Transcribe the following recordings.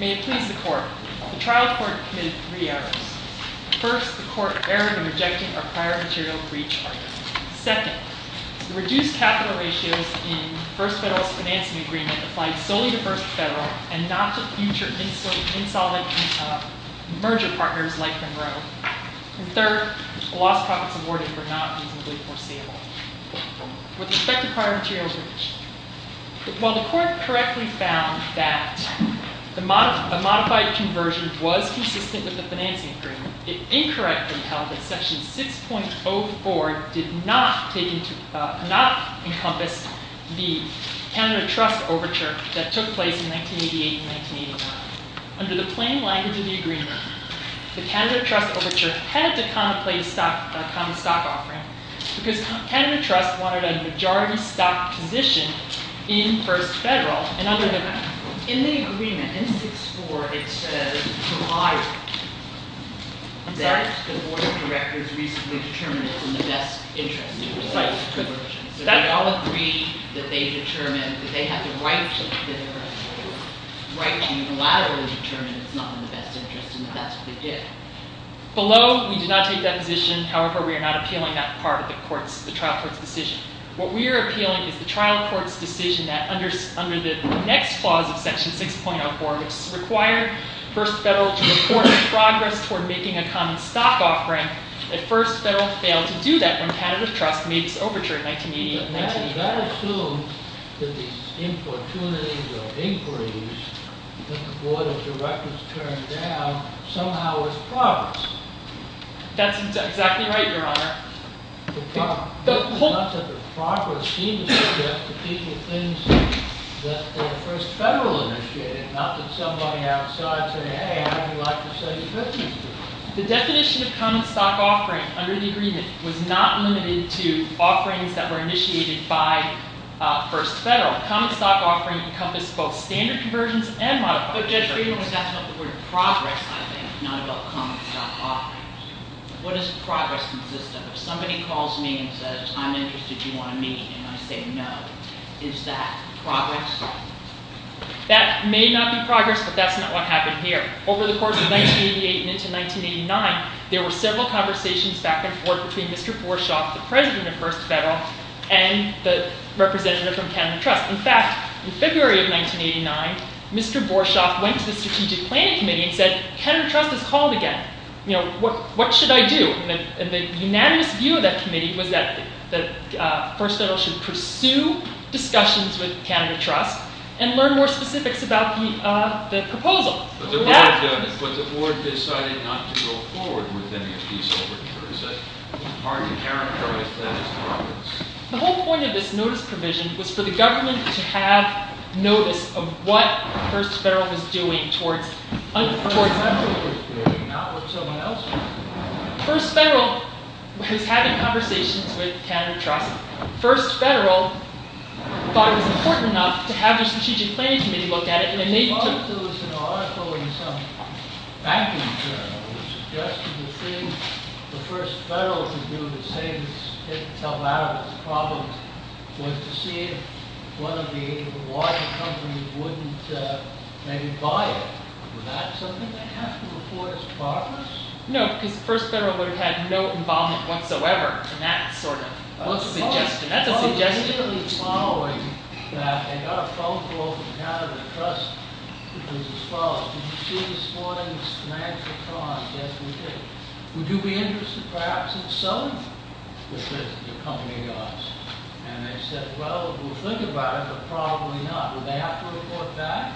May it please the Court, the trial court committed three errors. First, the court erred in rejecting a prior material breach argument. Second, the reduced capital ratios in First Federalist Financing Agreement applied solely to First Federal and not to future insolvent merger partners like Monroe. And third, the lost profits awarded were not reasonably foreseeable. With respect to prior material breach, while the court correctly found that a modified conversion was consistent with the financing agreement, it incorrectly held that Section 6.04 did not encompass the Canada Trust Overture that took place in 1988 and 1981. Under the plain language of the agreement, the Canada Trust Overture had to contemplate a common stock offering because Canada Trust wanted a majority stock position in First Federal. In the agreement, in 6.4, it says that the board of directors recently determined it's in the best interest to recite the conversion. So we all agree that they have the right to unilaterally determine it's not in the best interest and that that's what they did. Below, we do not take that position. However, we are not appealing that part of the trial court's decision. What we are appealing is the trial court's decision that under the next clause of Section 6.04, which is to require First Federal to report progress toward making a common stock offering, that First Federal failed to do that when Canada Trust made its overture in 1988 and 1989. But that assumes that these importunities or inquiries that the board of directors turned down somehow was progress. That's exactly right, Your Honor. Not that the progress seemed to suggest to people things that were First Federal-initiated, not that somebody outside said, hey, I'd like to sell you Christmas trees. The definition of common stock offering under the agreement was not limited to offerings that were initiated by First Federal. Common stock offering encompassed both standard conversions and modified conversions. But Judge Friedman was asking about the word progress, I think, not about common stock offerings. What does progress consist of? If somebody calls me and says, I'm interested, do you want to meet? And I say no, is that progress? That may not be progress, but that's not what happened here. Over the course of 1988 and into 1989, there were several conversations back and forth between Mr. Borschoff, the president of First Federal, and the representative from Canada Trust. In fact, in February of 1989, Mr. Borschoff went to the Strategic Planning Committee and said, Canada Trust has called again. What should I do? And the unanimous view of that committee was that First Federal should pursue discussions with Canada Trust and learn more specifics about the proposal. But the board decided not to go forward with any of these overtures. That's hard to characterize that as progress. The whole point of this notice provision was for the government to have notice of what First Federal was doing towards… What First Federal was doing, not what someone else was doing. First Federal was having conversations with Canada Trust. First Federal thought it was important enough to have the Strategic Planning Committee look at it, and they… I noticed there was an article in some banking journal that suggested the thing the First Federal could do to say it's helped out of its problems was to see if one of the wider companies wouldn't maybe buy it. Was that something they had to report as progress? No, because First Federal would have had no involvement whatsoever in that sort of suggestion. It was merely following that they got a phone call from Canada Trust, which was as follows. Did you see this morning's financial column? Yes, we did. Would you be interested, perhaps, in selling it? And they said, well, we'll think about it, but probably not. Would they have to report back?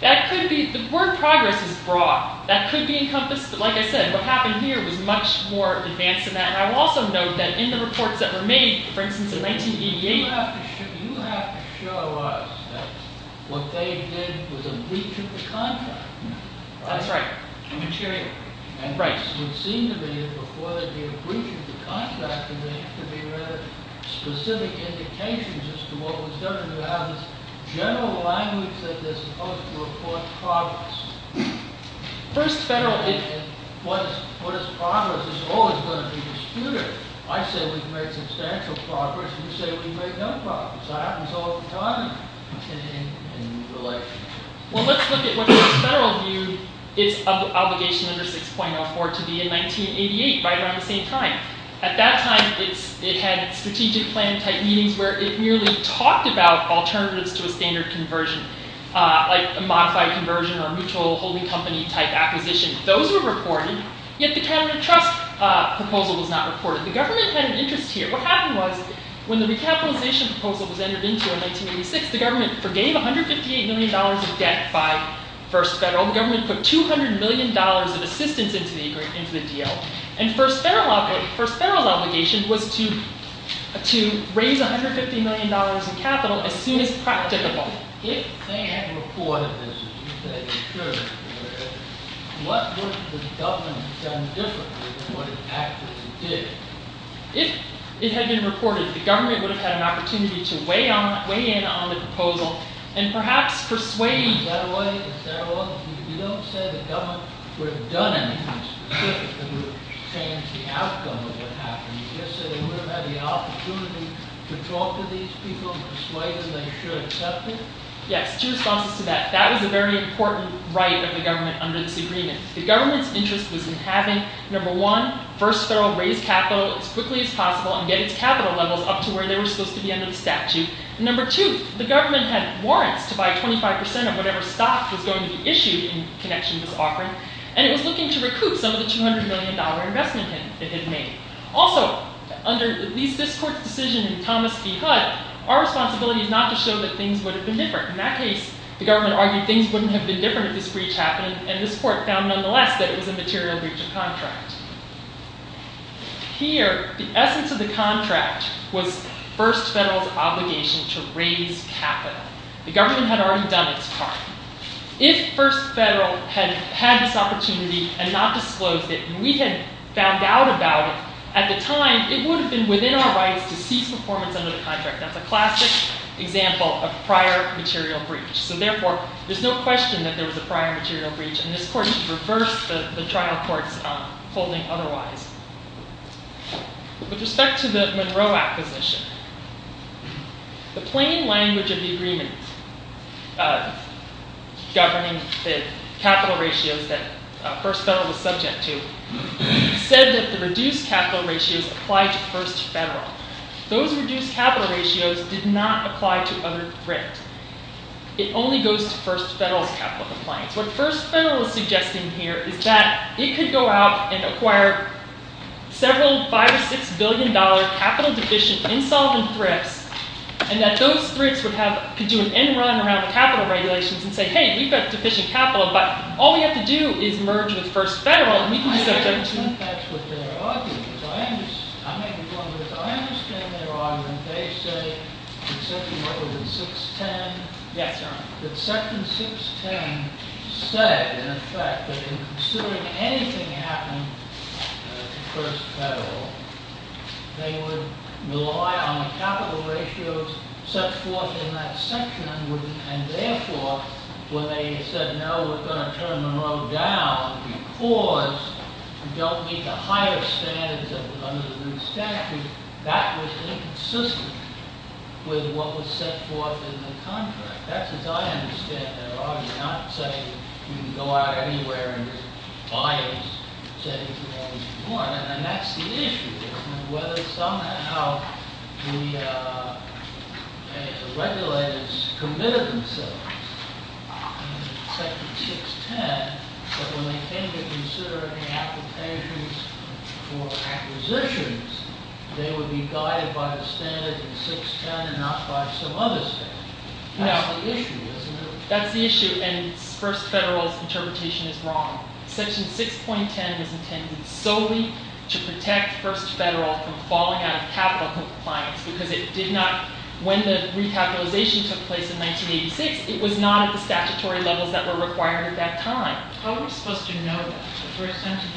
That could be… the word progress is broad. That could be encompassed… like I said, what happened here was much more advanced than that. And I will also note that in the reports that were made, for instance, in 1988… You have to show us that what they did was a breach of the contract. That's right. Material. Right. And it would seem to me that before they did a breach of the contract, there had to be rather specific indications as to what was going on. General language that they're supposed to report progress. First Federal… What is progress is always going to be disputed. I say we've made substantial progress, and you say we've made no progress. That happens all the time in relations. Well, let's look at what First Federal viewed its obligation under 6.04 to be in 1988, right around the same time. At that time, it had strategic plan type meetings where it merely talked about alternatives to a standard conversion, like a modified conversion or mutual holding company type acquisition. Those were reported, yet the cabinet trust proposal was not reported. The government had an interest here. What happened was, when the recapitalization proposal was entered into in 1986, the government forgave $158 million of debt by First Federal. The government put $200 million of assistance into the deal. And First Federal's obligation was to raise $150 million in capital as soon as practicable. If they had reported this, as you say they should have, what would the government have done differently than what it actually did? If it had been reported, the government would have had an opportunity to weigh in on the proposal and perhaps persuade… You don't say the government would have done anything specific to change the outcome of what happened. You just say they would have had the opportunity to talk to these people and persuade them they should accept it? Yes, two responses to that. That was a very important right of the government under this agreement. The government's interest was in having, number one, First Federal raise capital as quickly as possible and get its capital levels up to where they were supposed to be under the statute. Number two, the government had warrants to buy 25% of whatever stock was going to be issued in connection with this offering. And it was looking to recoup some of the $200 million investment it had made. Also, under this court's decision in Thomas v. Hud, our responsibility is not to show that things would have been different. In that case, the government argued things wouldn't have been different if this breach happened and this court found nonetheless that it was a material breach of contract. Here, the essence of the contract was First Federal's obligation to raise capital. The government had already done its part. If First Federal had had this opportunity and not disclosed it and we had found out about it at the time, it would have been within our rights to cease performance under the contract. That's a classic example of prior material breach. So therefore, there's no question that there was a prior material breach. And this court reversed the trial court's holding otherwise. With respect to the Monroe Acquisition, the plain language of the agreement governing the capital ratios that First Federal was subject to said that the reduced capital ratios applied to First Federal. Those reduced capital ratios did not apply to other grant. It only goes to First Federal's capital compliance. What First Federal is suggesting here is that it could go out and acquire several $5 or $6 billion capital deficient insolvent thrifts and that those thrifts could do an end run around capital regulations and say, hey, we've got deficient capital, but all we have to do is merge with First Federal. I think that's what their argument is. I may be wrong, but I understand their argument. They say that Section 610 said, in effect, that in considering anything happened to First Federal, they would rely on the capital ratios set forth in that section and therefore, when they said, no, we're going to turn Monroe down because we don't meet the higher standards under the new statute, that was inconsistent with what was set forth in the contract. That's what I understand their argument. I'm not saying you can go out anywhere and buy as many as you want. And that's the issue, isn't it, whether somehow the regulators committed themselves in Section 610 that when they came to consider any applications for acquisitions, they would be guided by the standard in 610 and not by some other standard. That's the issue, isn't it? That's the issue, and First Federal's interpretation is wrong. Section 6.10 was intended solely to protect First Federal from falling out of capital compliance because it did not, when the recapitalization took place in 1986, it was not at the statutory levels that were required at that time. How are we supposed to know that? The first sentence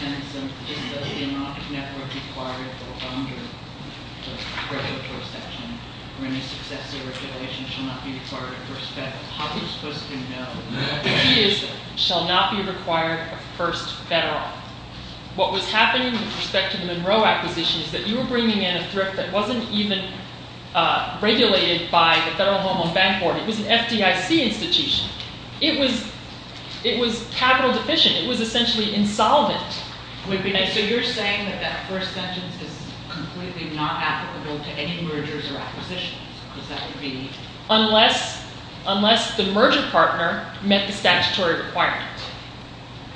in 610 says that the amount of network required for a bonder, the regulatory section, or any successor regulation shall not be required of First Federal. How are we supposed to know? The key is that it shall not be required of First Federal. What was happening with respect to the Monroe acquisition is that you were bringing in a thrift that wasn't even regulated by the Federal Home Loan Bank Board. It was an FDIC institution. It was capital deficient. It was essentially insolvent. So you're saying that that first sentence is completely not applicable to any mergers or acquisitions? Unless the merger partner met the statutory requirement.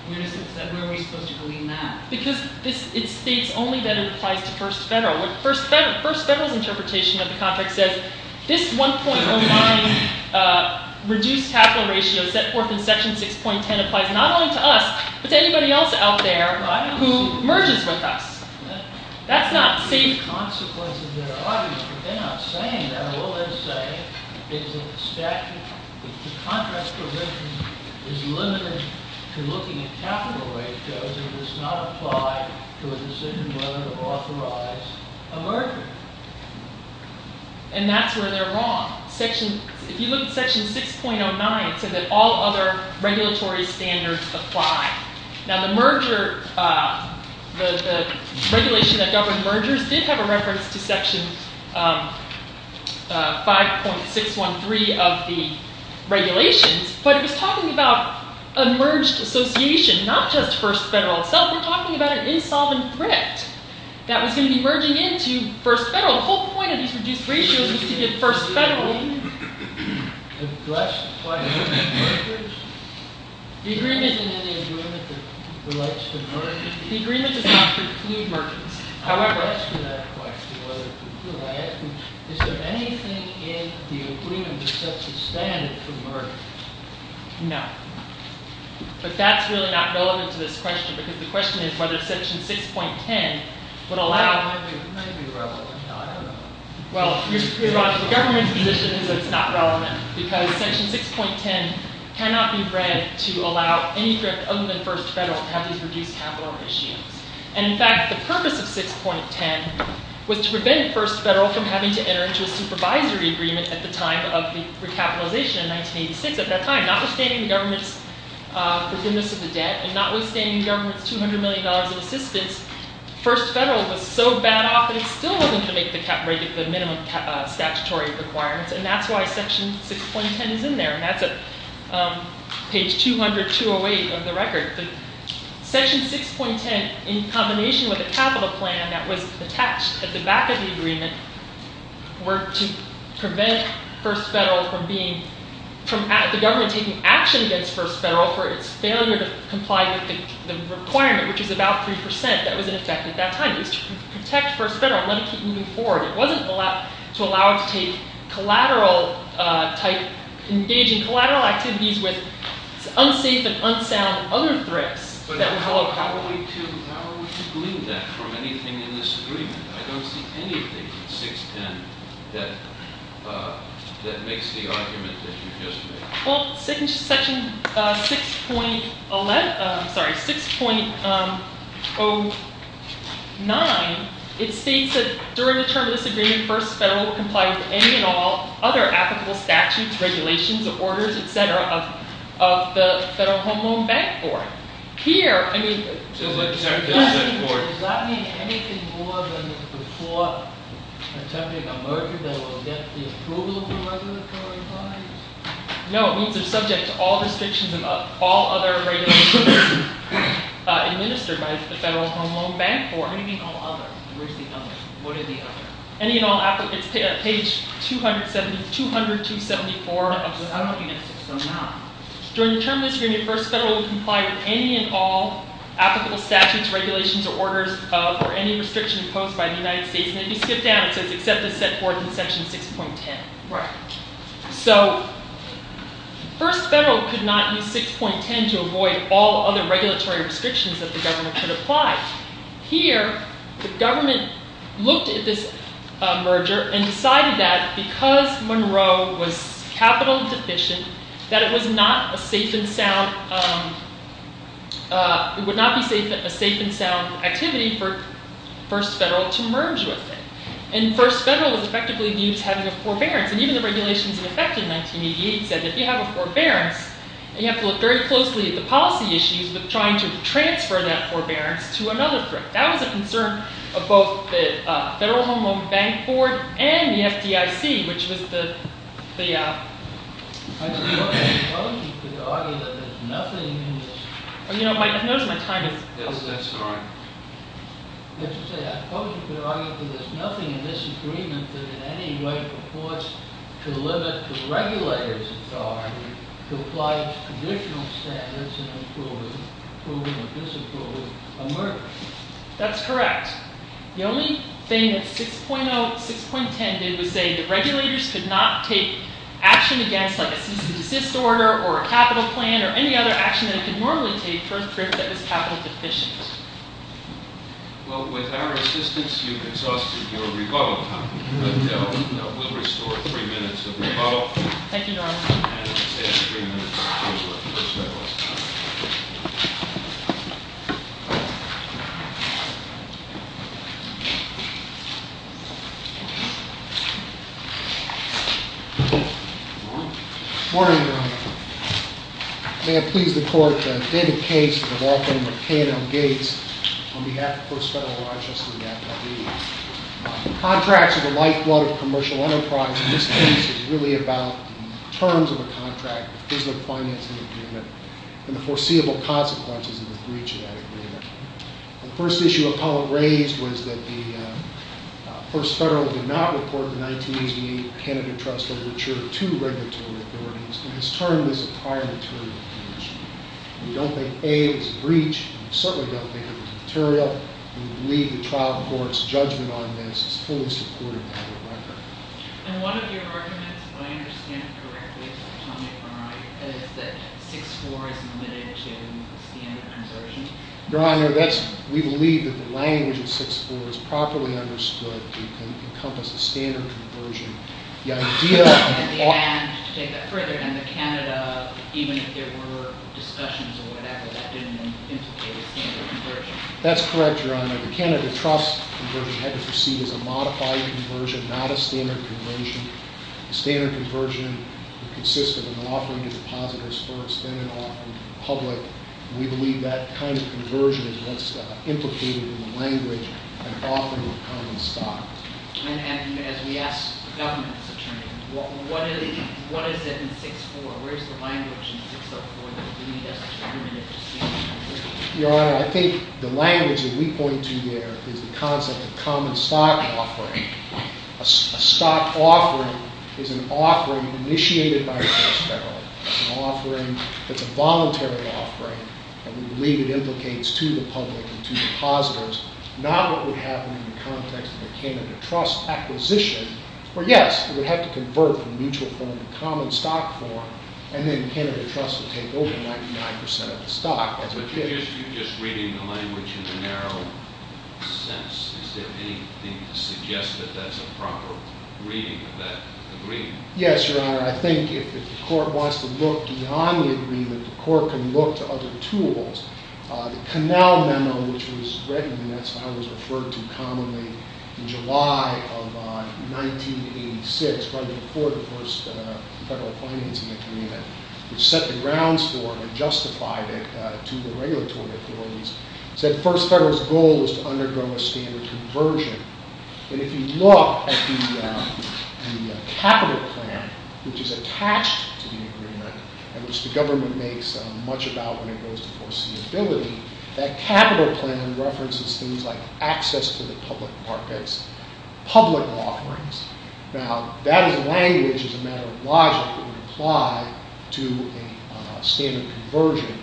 Where are we supposed to believe that? Because it states only that it applies to First Federal. First Federal's interpretation of the contract says this 1.09 reduced capital ratio set forth in section 6.10 applies not only to us, but to anybody else out there who merges with us. That's not safe. The consequences are obvious, but they're not saying that. All they're saying is that the contract provision is limited to looking at capital ratios and does not apply to a decision whether to authorize a merger. And that's where they're wrong. If you look at section 6.09, it said that all other regulatory standards apply. Now the regulation that governed mergers did have a reference to section 5.613 of the regulations, but it was talking about a merged association, not just First Federal itself. They're talking about an insolvent thrift that was going to be merging into First Federal. The whole point of these reduced ratios is to get First Federal in. The question is whether to merge. The agreement isn't in the agreement that relates to mergers. The agreement does not preclude mergers. I asked you that question. Is there anything in the agreement that sets the standard for mergers? No. But that's really not relevant to this question, because the question is whether section 6.10 would allow It might be relevant. I don't know. Well, you're right. The government's position is that it's not relevant, because section 6.10 cannot be read to allow any thrift other than First Federal to have these reduced capital ratios. And in fact, the purpose of 6.10 was to prevent First Federal from having to enter into a supervisory agreement at the time of the recapitalization in 1986. At that time, notwithstanding the government's forgiveness of the debt and notwithstanding the government's $200 million in assistance, First Federal was so bad off that it still wasn't going to make the minimum statutory requirements. And that's why section 6.10 is in there. And that's page 200, 208 of the record. Section 6.10, in combination with the capital plan that was attached at the back of the agreement, were to prevent First Federal from being, the government taking action against First Federal for its failure to comply with the requirement, which is about 3% that was in effect at that time. It was to protect First Federal and let it keep moving forward. It wasn't to allow it to engage in collateral activities with unsafe and unsound other thrifts. But how are we to glean that from anything in this agreement? I don't see anything in 6.10 that makes the argument that you just made. Well, in section 6.09, it states that during the term of this agreement, First Federal will comply with any and all other applicable statutes, regulations, orders, etc. of the Federal Home Loan Bank Board. Does that mean anything more than before attempting a merger that will get the approval of the regulatory bodies? No, it means they're subject to all restrictions of all other regulations administered by the Federal Home Loan Bank Board. What do you mean all other? Where's the other? What are the other? It's page 274 of 6.09. I don't think it's 6.09. During the term of this agreement, First Federal will comply with any and all applicable statutes, regulations, or orders for any restriction imposed by the United States. And if you skip down, it says except as set forth in section 6.10. Right. So, First Federal could not use 6.10 to avoid all other regulatory restrictions that the government could apply. Here, the government looked at this merger and decided that because Monroe was capital deficient, that it would not be a safe and sound activity for First Federal to merge with it. And First Federal was effectively viewed as having a forbearance. And even the regulations in effect in 1988 said that if you have a forbearance, you have to look very closely at the policy issues with trying to transfer that forbearance to another threat. That was a concern of both the Federal Home Loan Bank Board and the FDIC, which was the… I suppose you could argue that there's nothing in this. You know, I've noticed my time is… Yes, that's right. As you say, I suppose you could argue that there's nothing in this agreement that in any way purports to limit the regulator's authority to apply traditional standards in approving or disapproving a merger. That's correct. The only thing that 6.10 did was say that regulators could not take action against, like a cease and desist order or a capital plan or any other action that it could normally take for a threat that was capital deficient. Well, with our assistance, you exhausted your rebuttal time. But we'll restore three minutes of rebuttal. Thank you, Your Honor. And let's have three minutes for First Federalist. Morning, Your Honor. May it please the Court that David Case and the law firm of K&L Gates, on behalf of the First Federalist, are here. Contracts are the lifeblood of commercial enterprise. In this case, it's really about the terms of a contract, the physical financing agreement, and the foreseeable consequences of the breach of that agreement. The first issue Apollo raised was that the First Federal did not report the 1988 Canada Trust signature to regulatory authorities and has termed this a prior material condition. We don't think, A, it's a breach. We certainly don't think it's a material. We believe the trial court's judgment on this is fully supportive of the record. And one of your arguments, if I understand it correctly, is that 6.4 is limited to standard conversion. Your Honor, we believe that the language of 6.4 is properly understood. It can encompass a standard conversion. At the end, to take that further, and the Canada, even if there were discussions or whatever, that didn't implicate a standard conversion. That's correct, Your Honor. The Canada Trust conversion had to proceed as a modified conversion, not a standard conversion. A standard conversion would consist of an offering to depositors first, then an offering to the public. We believe that kind of conversion is what's implicated in the language and often would come in stock. And as we ask the government to determine, what is it in 6.4? Where is the language in 6.4 that we need to determine if it's standard conversion? Your Honor, I think the language that we point to there is the concept of common stock offering. A stock offering is an offering initiated by a trust federal. It's an offering that's a voluntary offering, and we believe it implicates to the public and to depositors, not what would happen in the context of a Canada Trust acquisition, where, yes, it would have to convert from mutual form to common stock form, and then Canada Trust would take over 99% of the stock. But you're just reading the language in the narrow sense. Is there anything to suggest that that's a proper reading of that agreement? Yes, Your Honor. I think if the court wants to look beyond the agreement, the court can look to other tools. The Canal Memo, which was written, and that's how it was referred to commonly in July of 1986, right before the first federal financing agreement, which set the grounds for it and justified it to the regulatory authorities, said the first federalist goal was to undergo a standard conversion. And if you look at the capital plan, which is attached to the agreement, and which the government makes much about when it goes to foreseeability, that capital plan references things like access to the public markets, public offerings. Now, that language is a matter of logic that would apply to a standard conversion,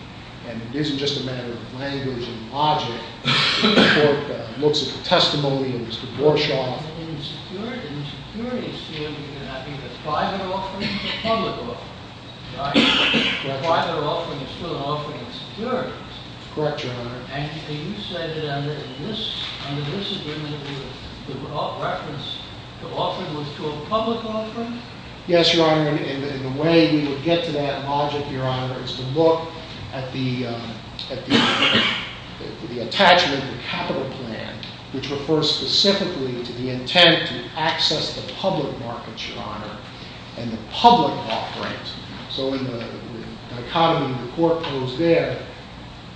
and it isn't just a matter of language and logic. The court looks at the testimony of Mr. Warshaw. In the security field, I think the private offering is a public offering, right? The private offering is still an offering of security. Correct, Your Honor. And you say that under this agreement, the reference to offering was to a public offering? Yes, Your Honor, and the way we would get to that logic, Your Honor, is to look at the attachment of the capital plan, which refers specifically to the intent to access the public markets, Your Honor, and the public offering. So in the dichotomy the court posed there,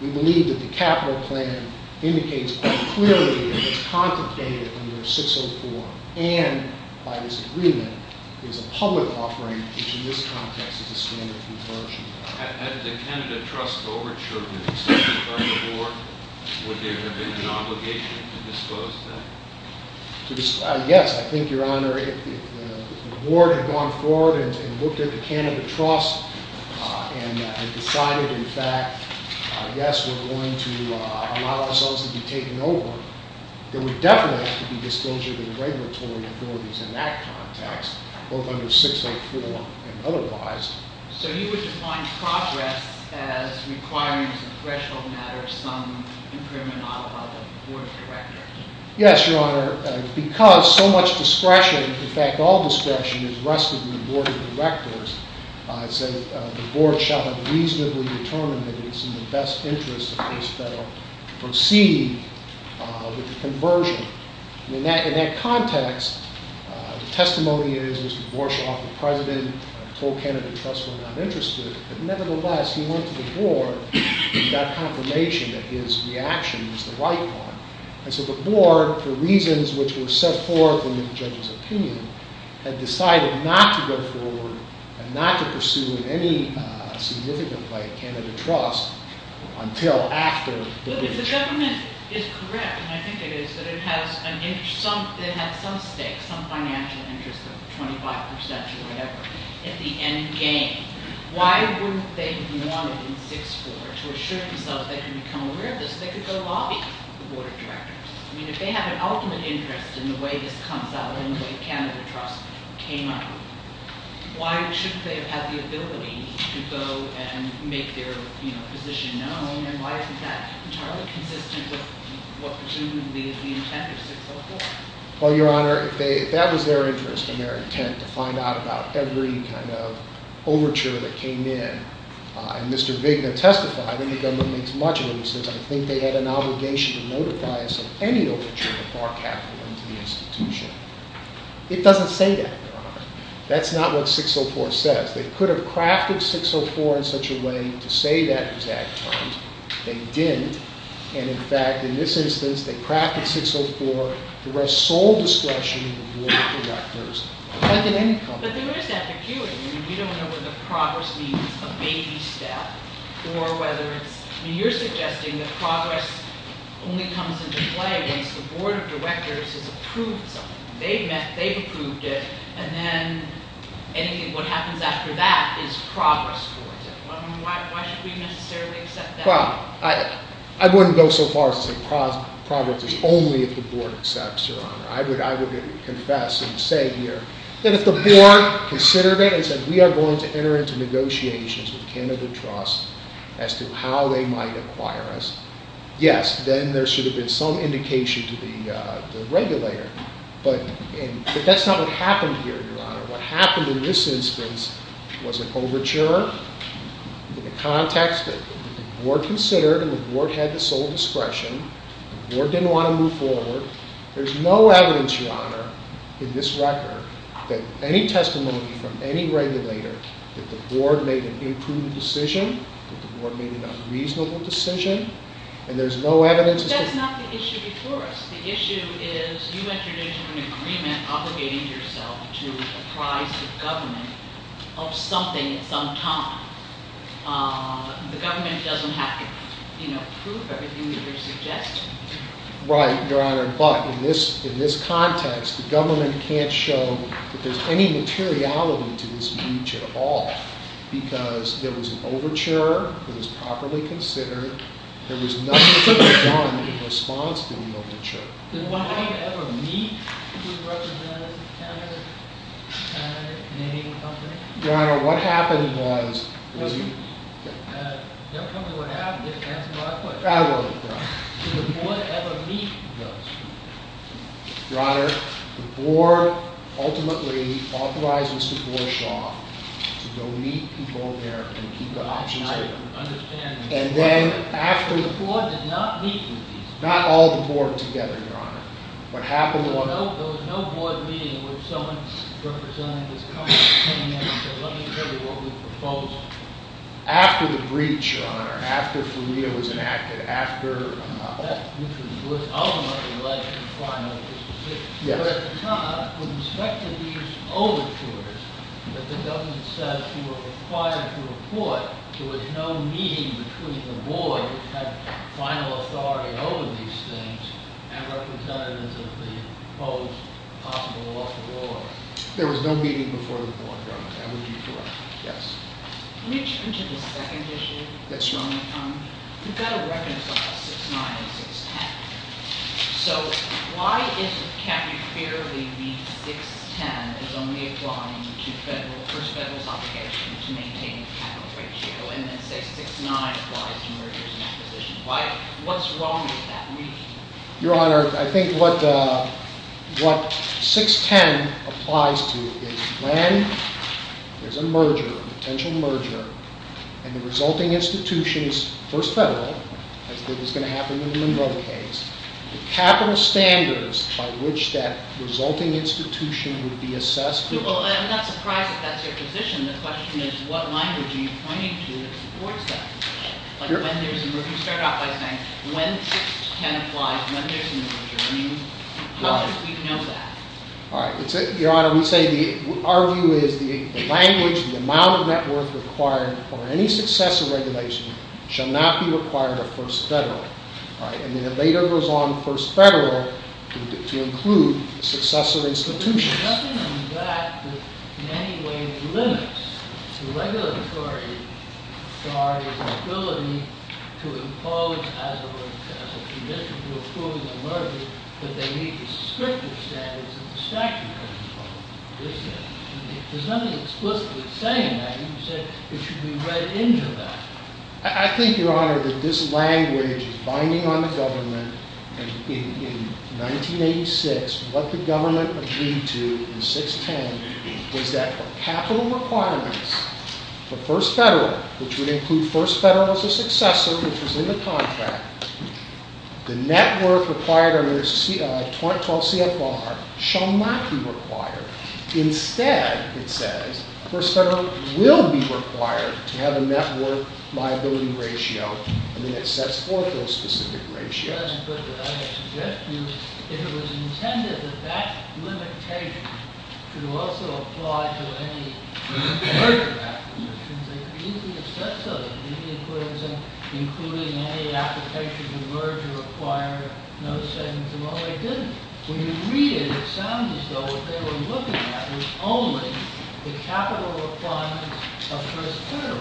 we believe that the capital plan indicates quite clearly that it's contemplated under 604. And by this agreement, it's a public offering, which in this context is a standard conversion. Had the Canada Trust overturned its decision about the board, would there have been an obligation to disclose that? Yes, I think, Your Honor, if the board had gone forward and looked at the Canada Trust and decided, in fact, yes, we're going to allow ourselves to be taken over, there would definitely have to be disclosure of the regulatory authorities in that context, both under 604 and otherwise. So you would define progress as requiring as a threshold matter some impriminata by the board of directors? Yes, Your Honor. Because so much discretion, in fact, all discretion is rested in the board of directors, I say the board shall have reasonably determined that it's in the best interest of this federal proceeding with the conversion. In that context, the testimony is Mr. Borschoff, the president, told Canada Trust we're not interested, but nevertheless, he went to the board and got confirmation that his reaction was the right one. And so the board, for reasons which were set forth in the judge's opinion, had decided not to go forward and not to pursue in any significant way Canada Trust until after the breach. The government is correct, and I think it is, that it has some stakes, some financial interest of 25% or whatever at the end game. Why wouldn't they want it in 604 to assure themselves they can become aware of this so they could go lobby the board of directors? I mean, if they have an ultimate interest in the way this comes out and the way Canada Trust came up, why shouldn't they have had the ability to go and make their position known, and why isn't that entirely consistent with what presumably is the intent of 604? Well, Your Honor, that was their interest and their intent, to find out about every kind of overture that came in. And Mr. Vigna testified, and the government makes much of it, and says, I think they had an obligation to notify us of any overture that bar capital into the institution. It doesn't say that, Your Honor. That's not what 604 says. They could have crafted 604 in such a way to say that it was act-timed. They didn't. And, in fact, in this instance, they crafted 604 to wrest sole discretion of the board of directors, like in any company. But there is that peculiarity. We don't know whether progress means a baby step or whether it's you're suggesting that progress only comes into play once the board of directors has approved something. They've met, they've approved it, and then what happens after that is progress towards it. Why should we necessarily accept that? I wouldn't go so far as to say progress is only if the board accepts, Your Honor. I would confess and say here that if the board considered it and said we are going to enter into negotiations with Canada Trust as to how they might acquire us, yes, then there should have been some indication to the regulator. But that's not what happened here, Your Honor. What happened in this instance was an overture in the context that the board considered and the board had the sole discretion, the board didn't want to move forward. There's no evidence, Your Honor, in this record that any testimony from any regulator that the board made an imprudent decision, that the board made an unreasonable decision, and there's no evidence That's not the issue before us. The issue is you entered into an agreement obligating yourself to apprise the government of something at some time. The government doesn't have to prove everything that you're suggesting. Right, Your Honor. But in this context, the government can't show that there's any materiality to this breach at all because there was an overture. It was properly considered. There was nothing to be done in response to the overture. Did one ever meet with representatives of Canada, a Canadian company? Your Honor, what happened was... Don't tell me what happened. Just answer my question. I will, Your Honor. Did the board ever meet with those people? Your Honor, the board ultimately authorizes the board, Shaw, to go meet people there and keep the options open. I understand. And then after... The board did not meet with these people. Not all the board together, Your Honor. What happened was... There was no board meeting in which someone representing this country came in and said, let me tell you what we proposed. After the breach, Your Honor, after Florida was enacted, after... That breach was ultimately led to the final decision. Yes. But at the time, with respect to these overtures that the government said you were required to avoid, there was no meeting between the board that had final authority over these things and representatives of the proposed possible loss of war. There was no meeting before the board, Your Honor. That would be correct. Yes. Let me jump into the second issue. Yes, Your Honor. You've got to reconcile 6-9 and 6-10. So why can't you clearly read 6-10 as only applying to federal... First, federal's obligation to maintain the capital ratio, and then say 6-9 applies to mergers and acquisitions. What's wrong with that reading? Your Honor, I think what 6-10 applies to is when there's a merger, a potential merger, and the resulting institution is first federal, as is going to happen in the Monroe case, the capital standards by which that resulting institution would be assessed... Well, I'm not surprised if that's your position. The question is what language are you pointing to that supports that? You start off by saying when 6-10 applies, when there's a merger. How do you know that? Your Honor, we say our view is the language, the amount of net worth required for any successor regulation shall not be required of first federal. And then it later goes on first federal to include successor institutions. There's nothing on that that in any way limits the regulatory authority's ability to impose as a result of a commission to approve a merger that they meet descriptive standards of the statute of limitations. There's nothing explicitly saying that. You said it should be read into that. I think, Your Honor, that this language is binding on the government. In 1986, what the government agreed to in 6-10 was that for capital requirements for first federal, which would include first federal as a successor, which was in the contract, the net worth required under 2012 CFR shall not be required. Instead, it says, first federal will be required to have a net worth liability ratio, and then it sets forth those specific ratios. But I would suggest to you, if it was intended that that limitation should also apply to any merger applications, they could easily have said so, including any application to merge or acquire. No, they didn't. When you read it, it sounds as though what they were looking at was only the capital requirements of first federal.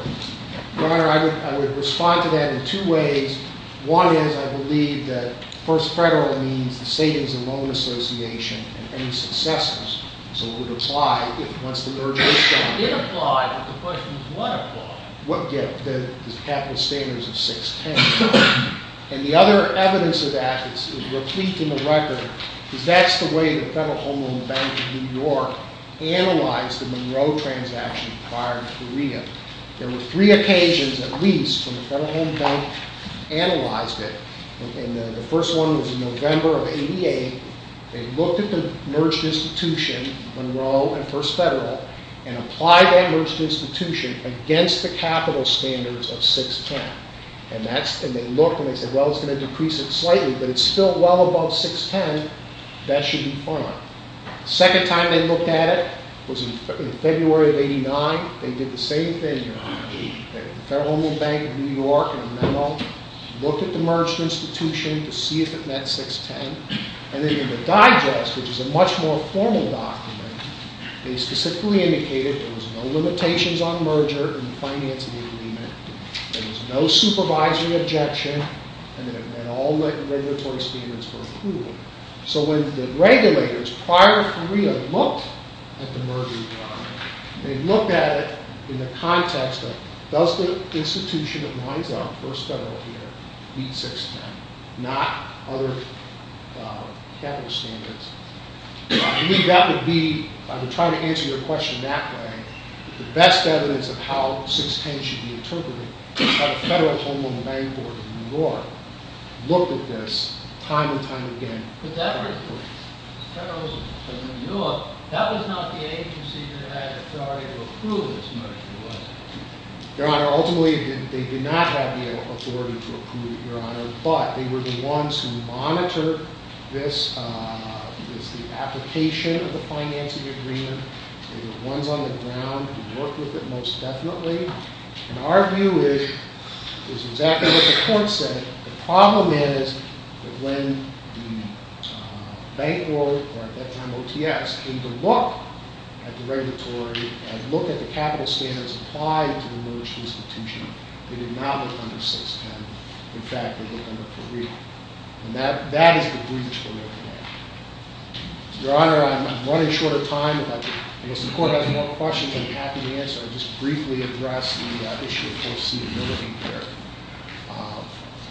Your Honor, I would respond to that in two ways. One is, I believe that first federal means the savings and loan association and any successors, so it would apply once the merger is done. It applied, but the question is what applied? The capital standards of 6-10. And the other evidence of that that's replete in the record is that's the way the Federal Home Loan Bank of New York analyzed the Monroe transaction prior to Korea. There were three occasions at least when the Federal Home Loan Bank analyzed it, and the first one was in November of 88. They looked at the merged institution, Monroe and first federal, and applied that merged institution against the capital standards of 6-10. And they looked and they said, well, it's going to decrease it slightly, but it's still well above 6-10. That should be fine. The second time they looked at it was in February of 89. They did the same thing, Your Honor. The Federal Home Loan Bank of New York in a memo looked at the merged institution to see if it met 6-10, and then in the digest, which is a much more formal document, they specifically indicated there was no limitations on merger in the financing agreement, there was no supervisory objection, and all the regulatory standards were approved. So when the regulators prior to Korea looked at the merger, Your Honor, they looked at it in the context of does the institution that lines up first federal here meet 6-10, not other capital standards. I believe that would be, if I were trying to answer your question that way, the best evidence of how 6-10 should be interpreted is how the Federal Home Loan Bank Board of New York looked at this time and time again. But that was not the agency that had authority to approve this merger, was it? Your Honor, ultimately they did not have the authority to approve it, Your Honor, but they were the ones who monitored this, it was the application of the financing agreement, they were the ones on the ground who worked with it most definitely, and our view is exactly what the court said. The problem is that when the bank board, or at that time OTS, came to look at the regulatory and look at the capital standards applied to the merged institution, they did not look under 6-10. In fact, they looked under Korea. And that is the breach we're looking at. Your Honor, I'm running short of time. If the court has more questions, I'm happy to answer. I'll just briefly address the issue of foreseeability here.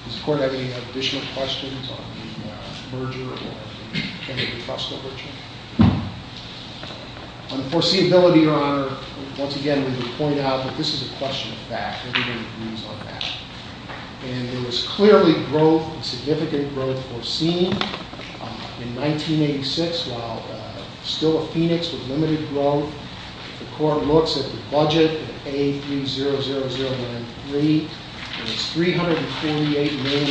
Does the court have any additional questions on the merger or any of the cost of the merger? On foreseeability, Your Honor, once again we would point out that this is a question of fact. Everybody agrees on that. And there was clearly growth, significant growth, foreseen in 1986, while still a phoenix of limited growth. The court looks at the budget, A300093, and it's $348 million.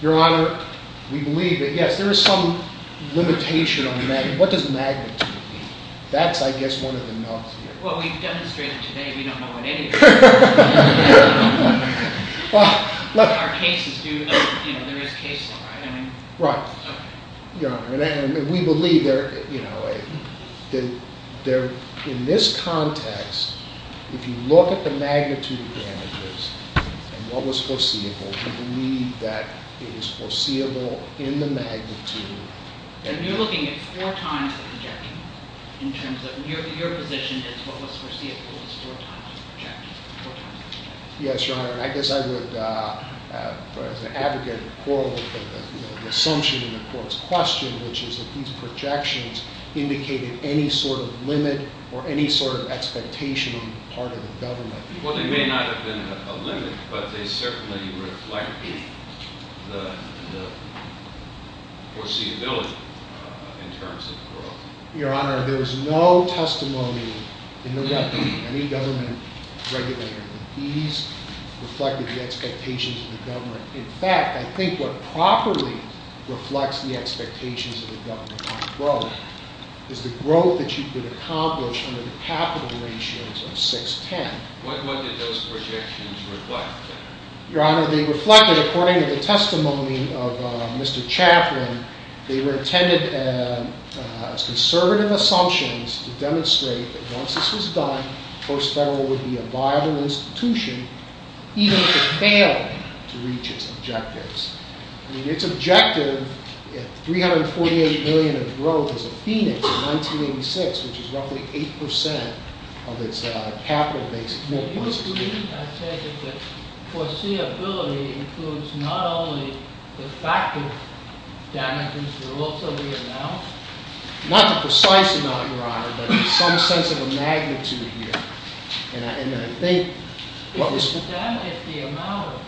Your Honor, we believe that, yes, there is some limitation on magnitude. What does magnitude mean? That's, I guess, one of the no's here. Well, we've demonstrated today we don't know what any of those are. Our cases do, there is cases, right? Right. Your Honor, we believe that in this context, if you look at the magnitude of damages and what was foreseeable, we believe that it is foreseeable in the magnitude. And you're looking at four times the projection in terms of your position is what was foreseeable is four times the projection, four times the projection. Yes, Your Honor, and I guess I would, as an advocate, quarrel with the assumption in the court's question, which is that these projections indicated any sort of limit or any sort of expectation on the part of the government. Well, they may not have been a limit, but they certainly reflect the foreseeability in terms of growth. Your Honor, there is no testimony in the record of any government regulator that these reflected the expectations of the government. In fact, I think what properly reflects the expectations of the government on growth is the growth that you could accomplish under the capital ratios of 6-10. What did those projections reflect? Your Honor, they reflected, according to the testimony of Mr. Chaffran, they were intended as conservative assumptions to demonstrate that once this was done, the post-federal would be a viable institution even if it failed to reach its objectives. I mean, its objective, 348 million in growth as of Phoenix in 1986, which is roughly 8% of its capital base. Do you agree, I say, that the foreseeability includes not only the fact of damages, but also the amount? Not the precise amount, Your Honor, but some sense of a magnitude here. And I think what was... If you estimate the amount of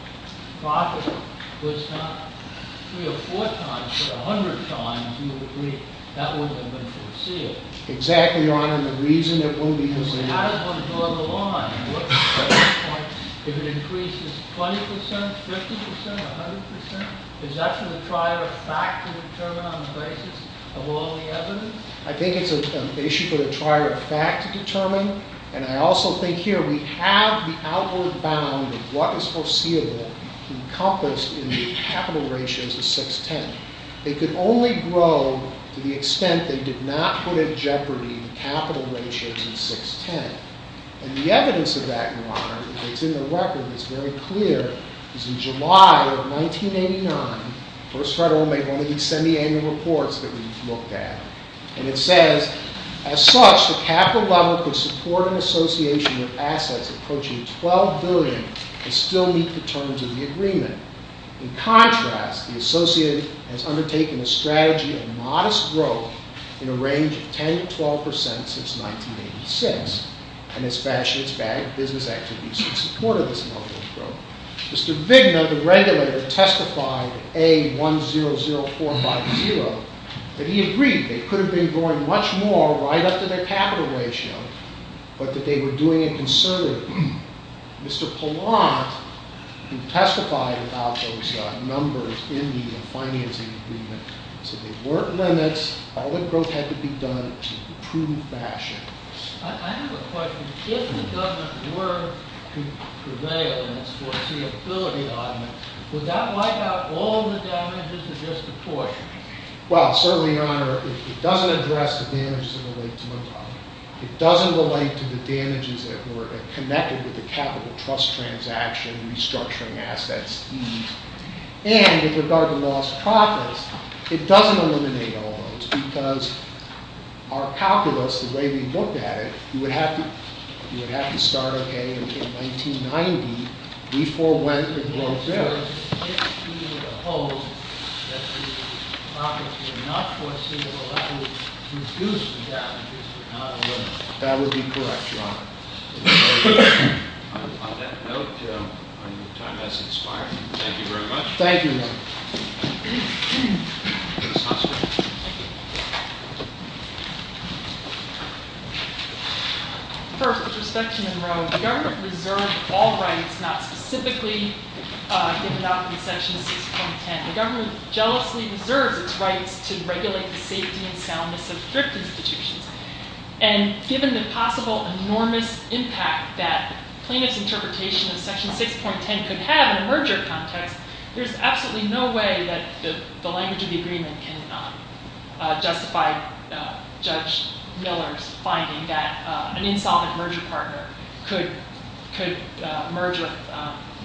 profit was not 3 or 4 times, but 100 times, you would agree that wouldn't have been foreseeable. Exactly, Your Honor, and the reason it wouldn't be... But how does one draw the line? At what point, if it increases 20%, 50%, 100%? Is that for the trier of fact to determine on the basis of all the evidence? I think it's an issue for the trier of fact to determine, and I also think here we have the outward bound of what is foreseeable encompassed in the capital ratios of 6-10. They could only grow to the extent they did not put in jeopardy the capital ratios of 6-10. And the evidence of that, Your Honor, that's in the record, that's very clear, is in July of 1989, the First Federal made one of these semi-annual reports that we looked at, and it says, as such, the capital level could support an association In contrast, the association has undertaken a strategy of modest growth in a range of 10-12% since 1986, and its bank business activities in support of this modest growth. Mr. Vigna, the regulator, testified at A100450 that he agreed they could have been growing much more right up to their capital ratio, but that they were doing it conservatively. Mr. Pallant, who testified about those numbers in the financing agreement, said there weren't limits, all the growth had to be done in a true fashion. I have a question. If the government were to prevail in its foreseeability arguments, would that wipe out all the damages of disproportionate? Well, certainly, Your Honor, it doesn't address the damages that relate to mortality. It doesn't relate to the damages that were connected with the capital trust transaction, restructuring assets, fees. And, with regard to lost profits, it doesn't eliminate all of those, because our calculus, the way we looked at it, you would have to start, okay, in 1990, we forewent the growth there. So, if we were to hold that the profits were enough for us to be able to reduce the damages, we're not eliminating them. That would be correct, Your Honor. On that note, your time has expired. Thank you very much. Thank you, Your Honor. First, with respect to Monroe, the government reserved all rights, not specifically given up in Section 6.10. The government jealously reserves its rights to regulate the safety and soundness of thrift institutions. And, given the possible enormous impact that plaintiff's interpretation of Section 6.10 could have in a merger context, there's absolutely no way that the language of the agreement can justify Judge Miller's finding that an insolvent merger partner could merge with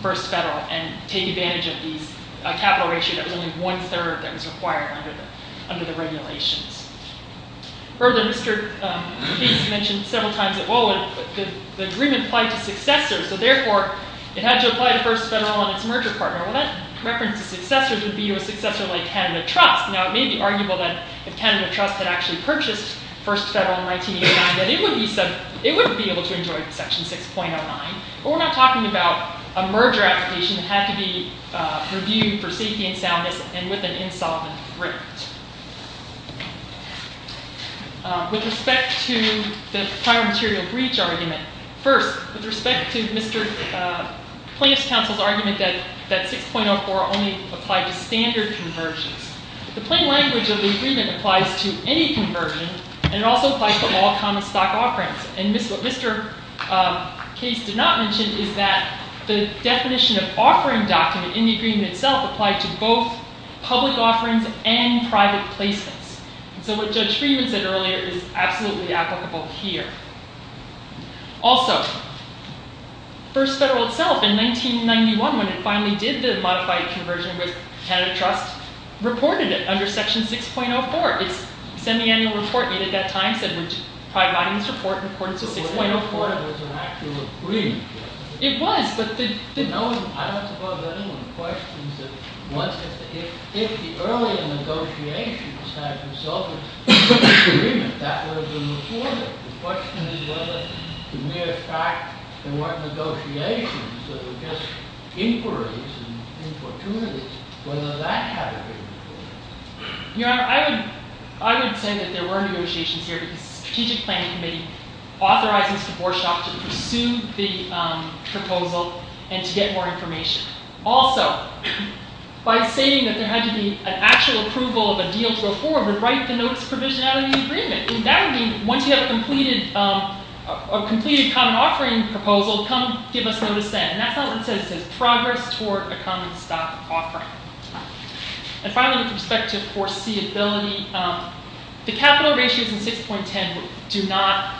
First Federal and take advantage of a capital ratio that was only one-third that was required under the regulations. Further, Mr. Gates mentioned several times that, well, the agreement applied to successors, so, therefore, it had to apply to First Federal and its merger partner. Well, that reference to successors would be to a successor like Canada Trust. Now, it may be arguable that if Canada Trust had actually purchased First Federal in 1989, that it wouldn't be able to enjoy Section 6.09, but we're not talking about a merger application that had to be reviewed for safety and soundness and with an insolvent agreement. With respect to the prior material breach argument, first, with respect to Mr. Plaintiff's counsel's argument that 6.04 only applied to standard conversions, the plain language of the agreement applies to any conversion, and it also applies to all common stock offerings. And what Mr. Gates did not mention is that the definition of offering document in the agreement itself applied to both public offerings and private placements. So what Judge Freeman said earlier is absolutely applicable here. Also, First Federal itself, in 1991, when it finally did the modified conversion with Canada Trust, reported it under Section 6.04. Its semiannual report made at that time said we're probably modifying this report in accordance with 6.04. It was, but the Your Honor, I would say that there were negotiations here because the Strategic Planning Committee authorized Mr. Borschoff to pursue the proposal and to get more information. Also, by saying that there had to be an actual approval of a deal to go forward, write the notice provision out of the agreement. That would mean, once you have a completed common offering proposal, come give us notice then. And that's not what it says. It says progress toward a common stock offering. And finally, with respect to foreseeability, the capital ratios in 6.10 do not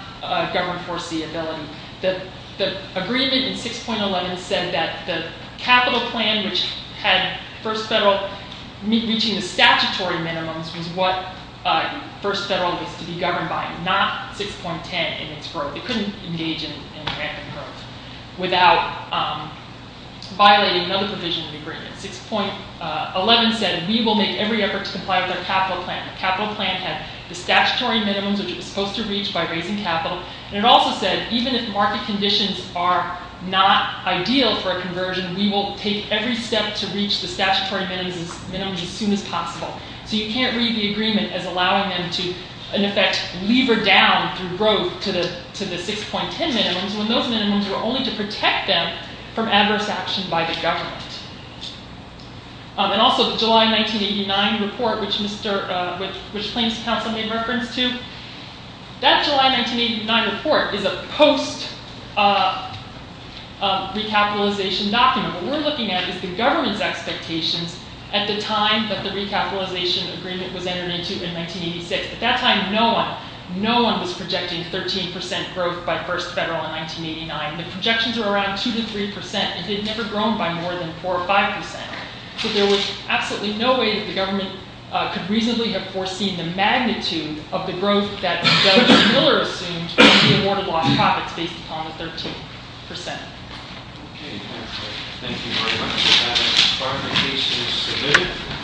govern foreseeability. The agreement in 6.11 said that the capital plan which had First Federal reaching the statutory minimums was what First Federal was to be governed by, not 6.10 and its growth. It couldn't engage in rampant growth without violating another provision of the agreement. 6.11 said we will make every effort to comply with our capital plan. The capital plan had the statutory minimums which it was supposed to reach by raising capital. And it also said even if market conditions are not ideal for a conversion, we will take every step to reach the statutory minimums as soon as possible. So you can't read the agreement as allowing them to, in effect, lever down through growth to the 6.10 minimums when those minimums were only to protect them from adverse action by the government. And also the July 1989 report, which claims counsel made reference to, that July 1989 report is a post-recapitalization document. What we're looking at is the government's expectations at the time that the recapitalization agreement was entered into in 1986. At that time, no one was projecting 13% growth by First Federal in 1989. The projections were around 2-3% and had never grown by more than 4-5%. So there was absolutely no way that the government could reasonably have foreseen the magnitude of the growth that Governor Miller assumed from the awarded lost profits based upon the 13%. Okay, thank you very much. If that clarification is submitted.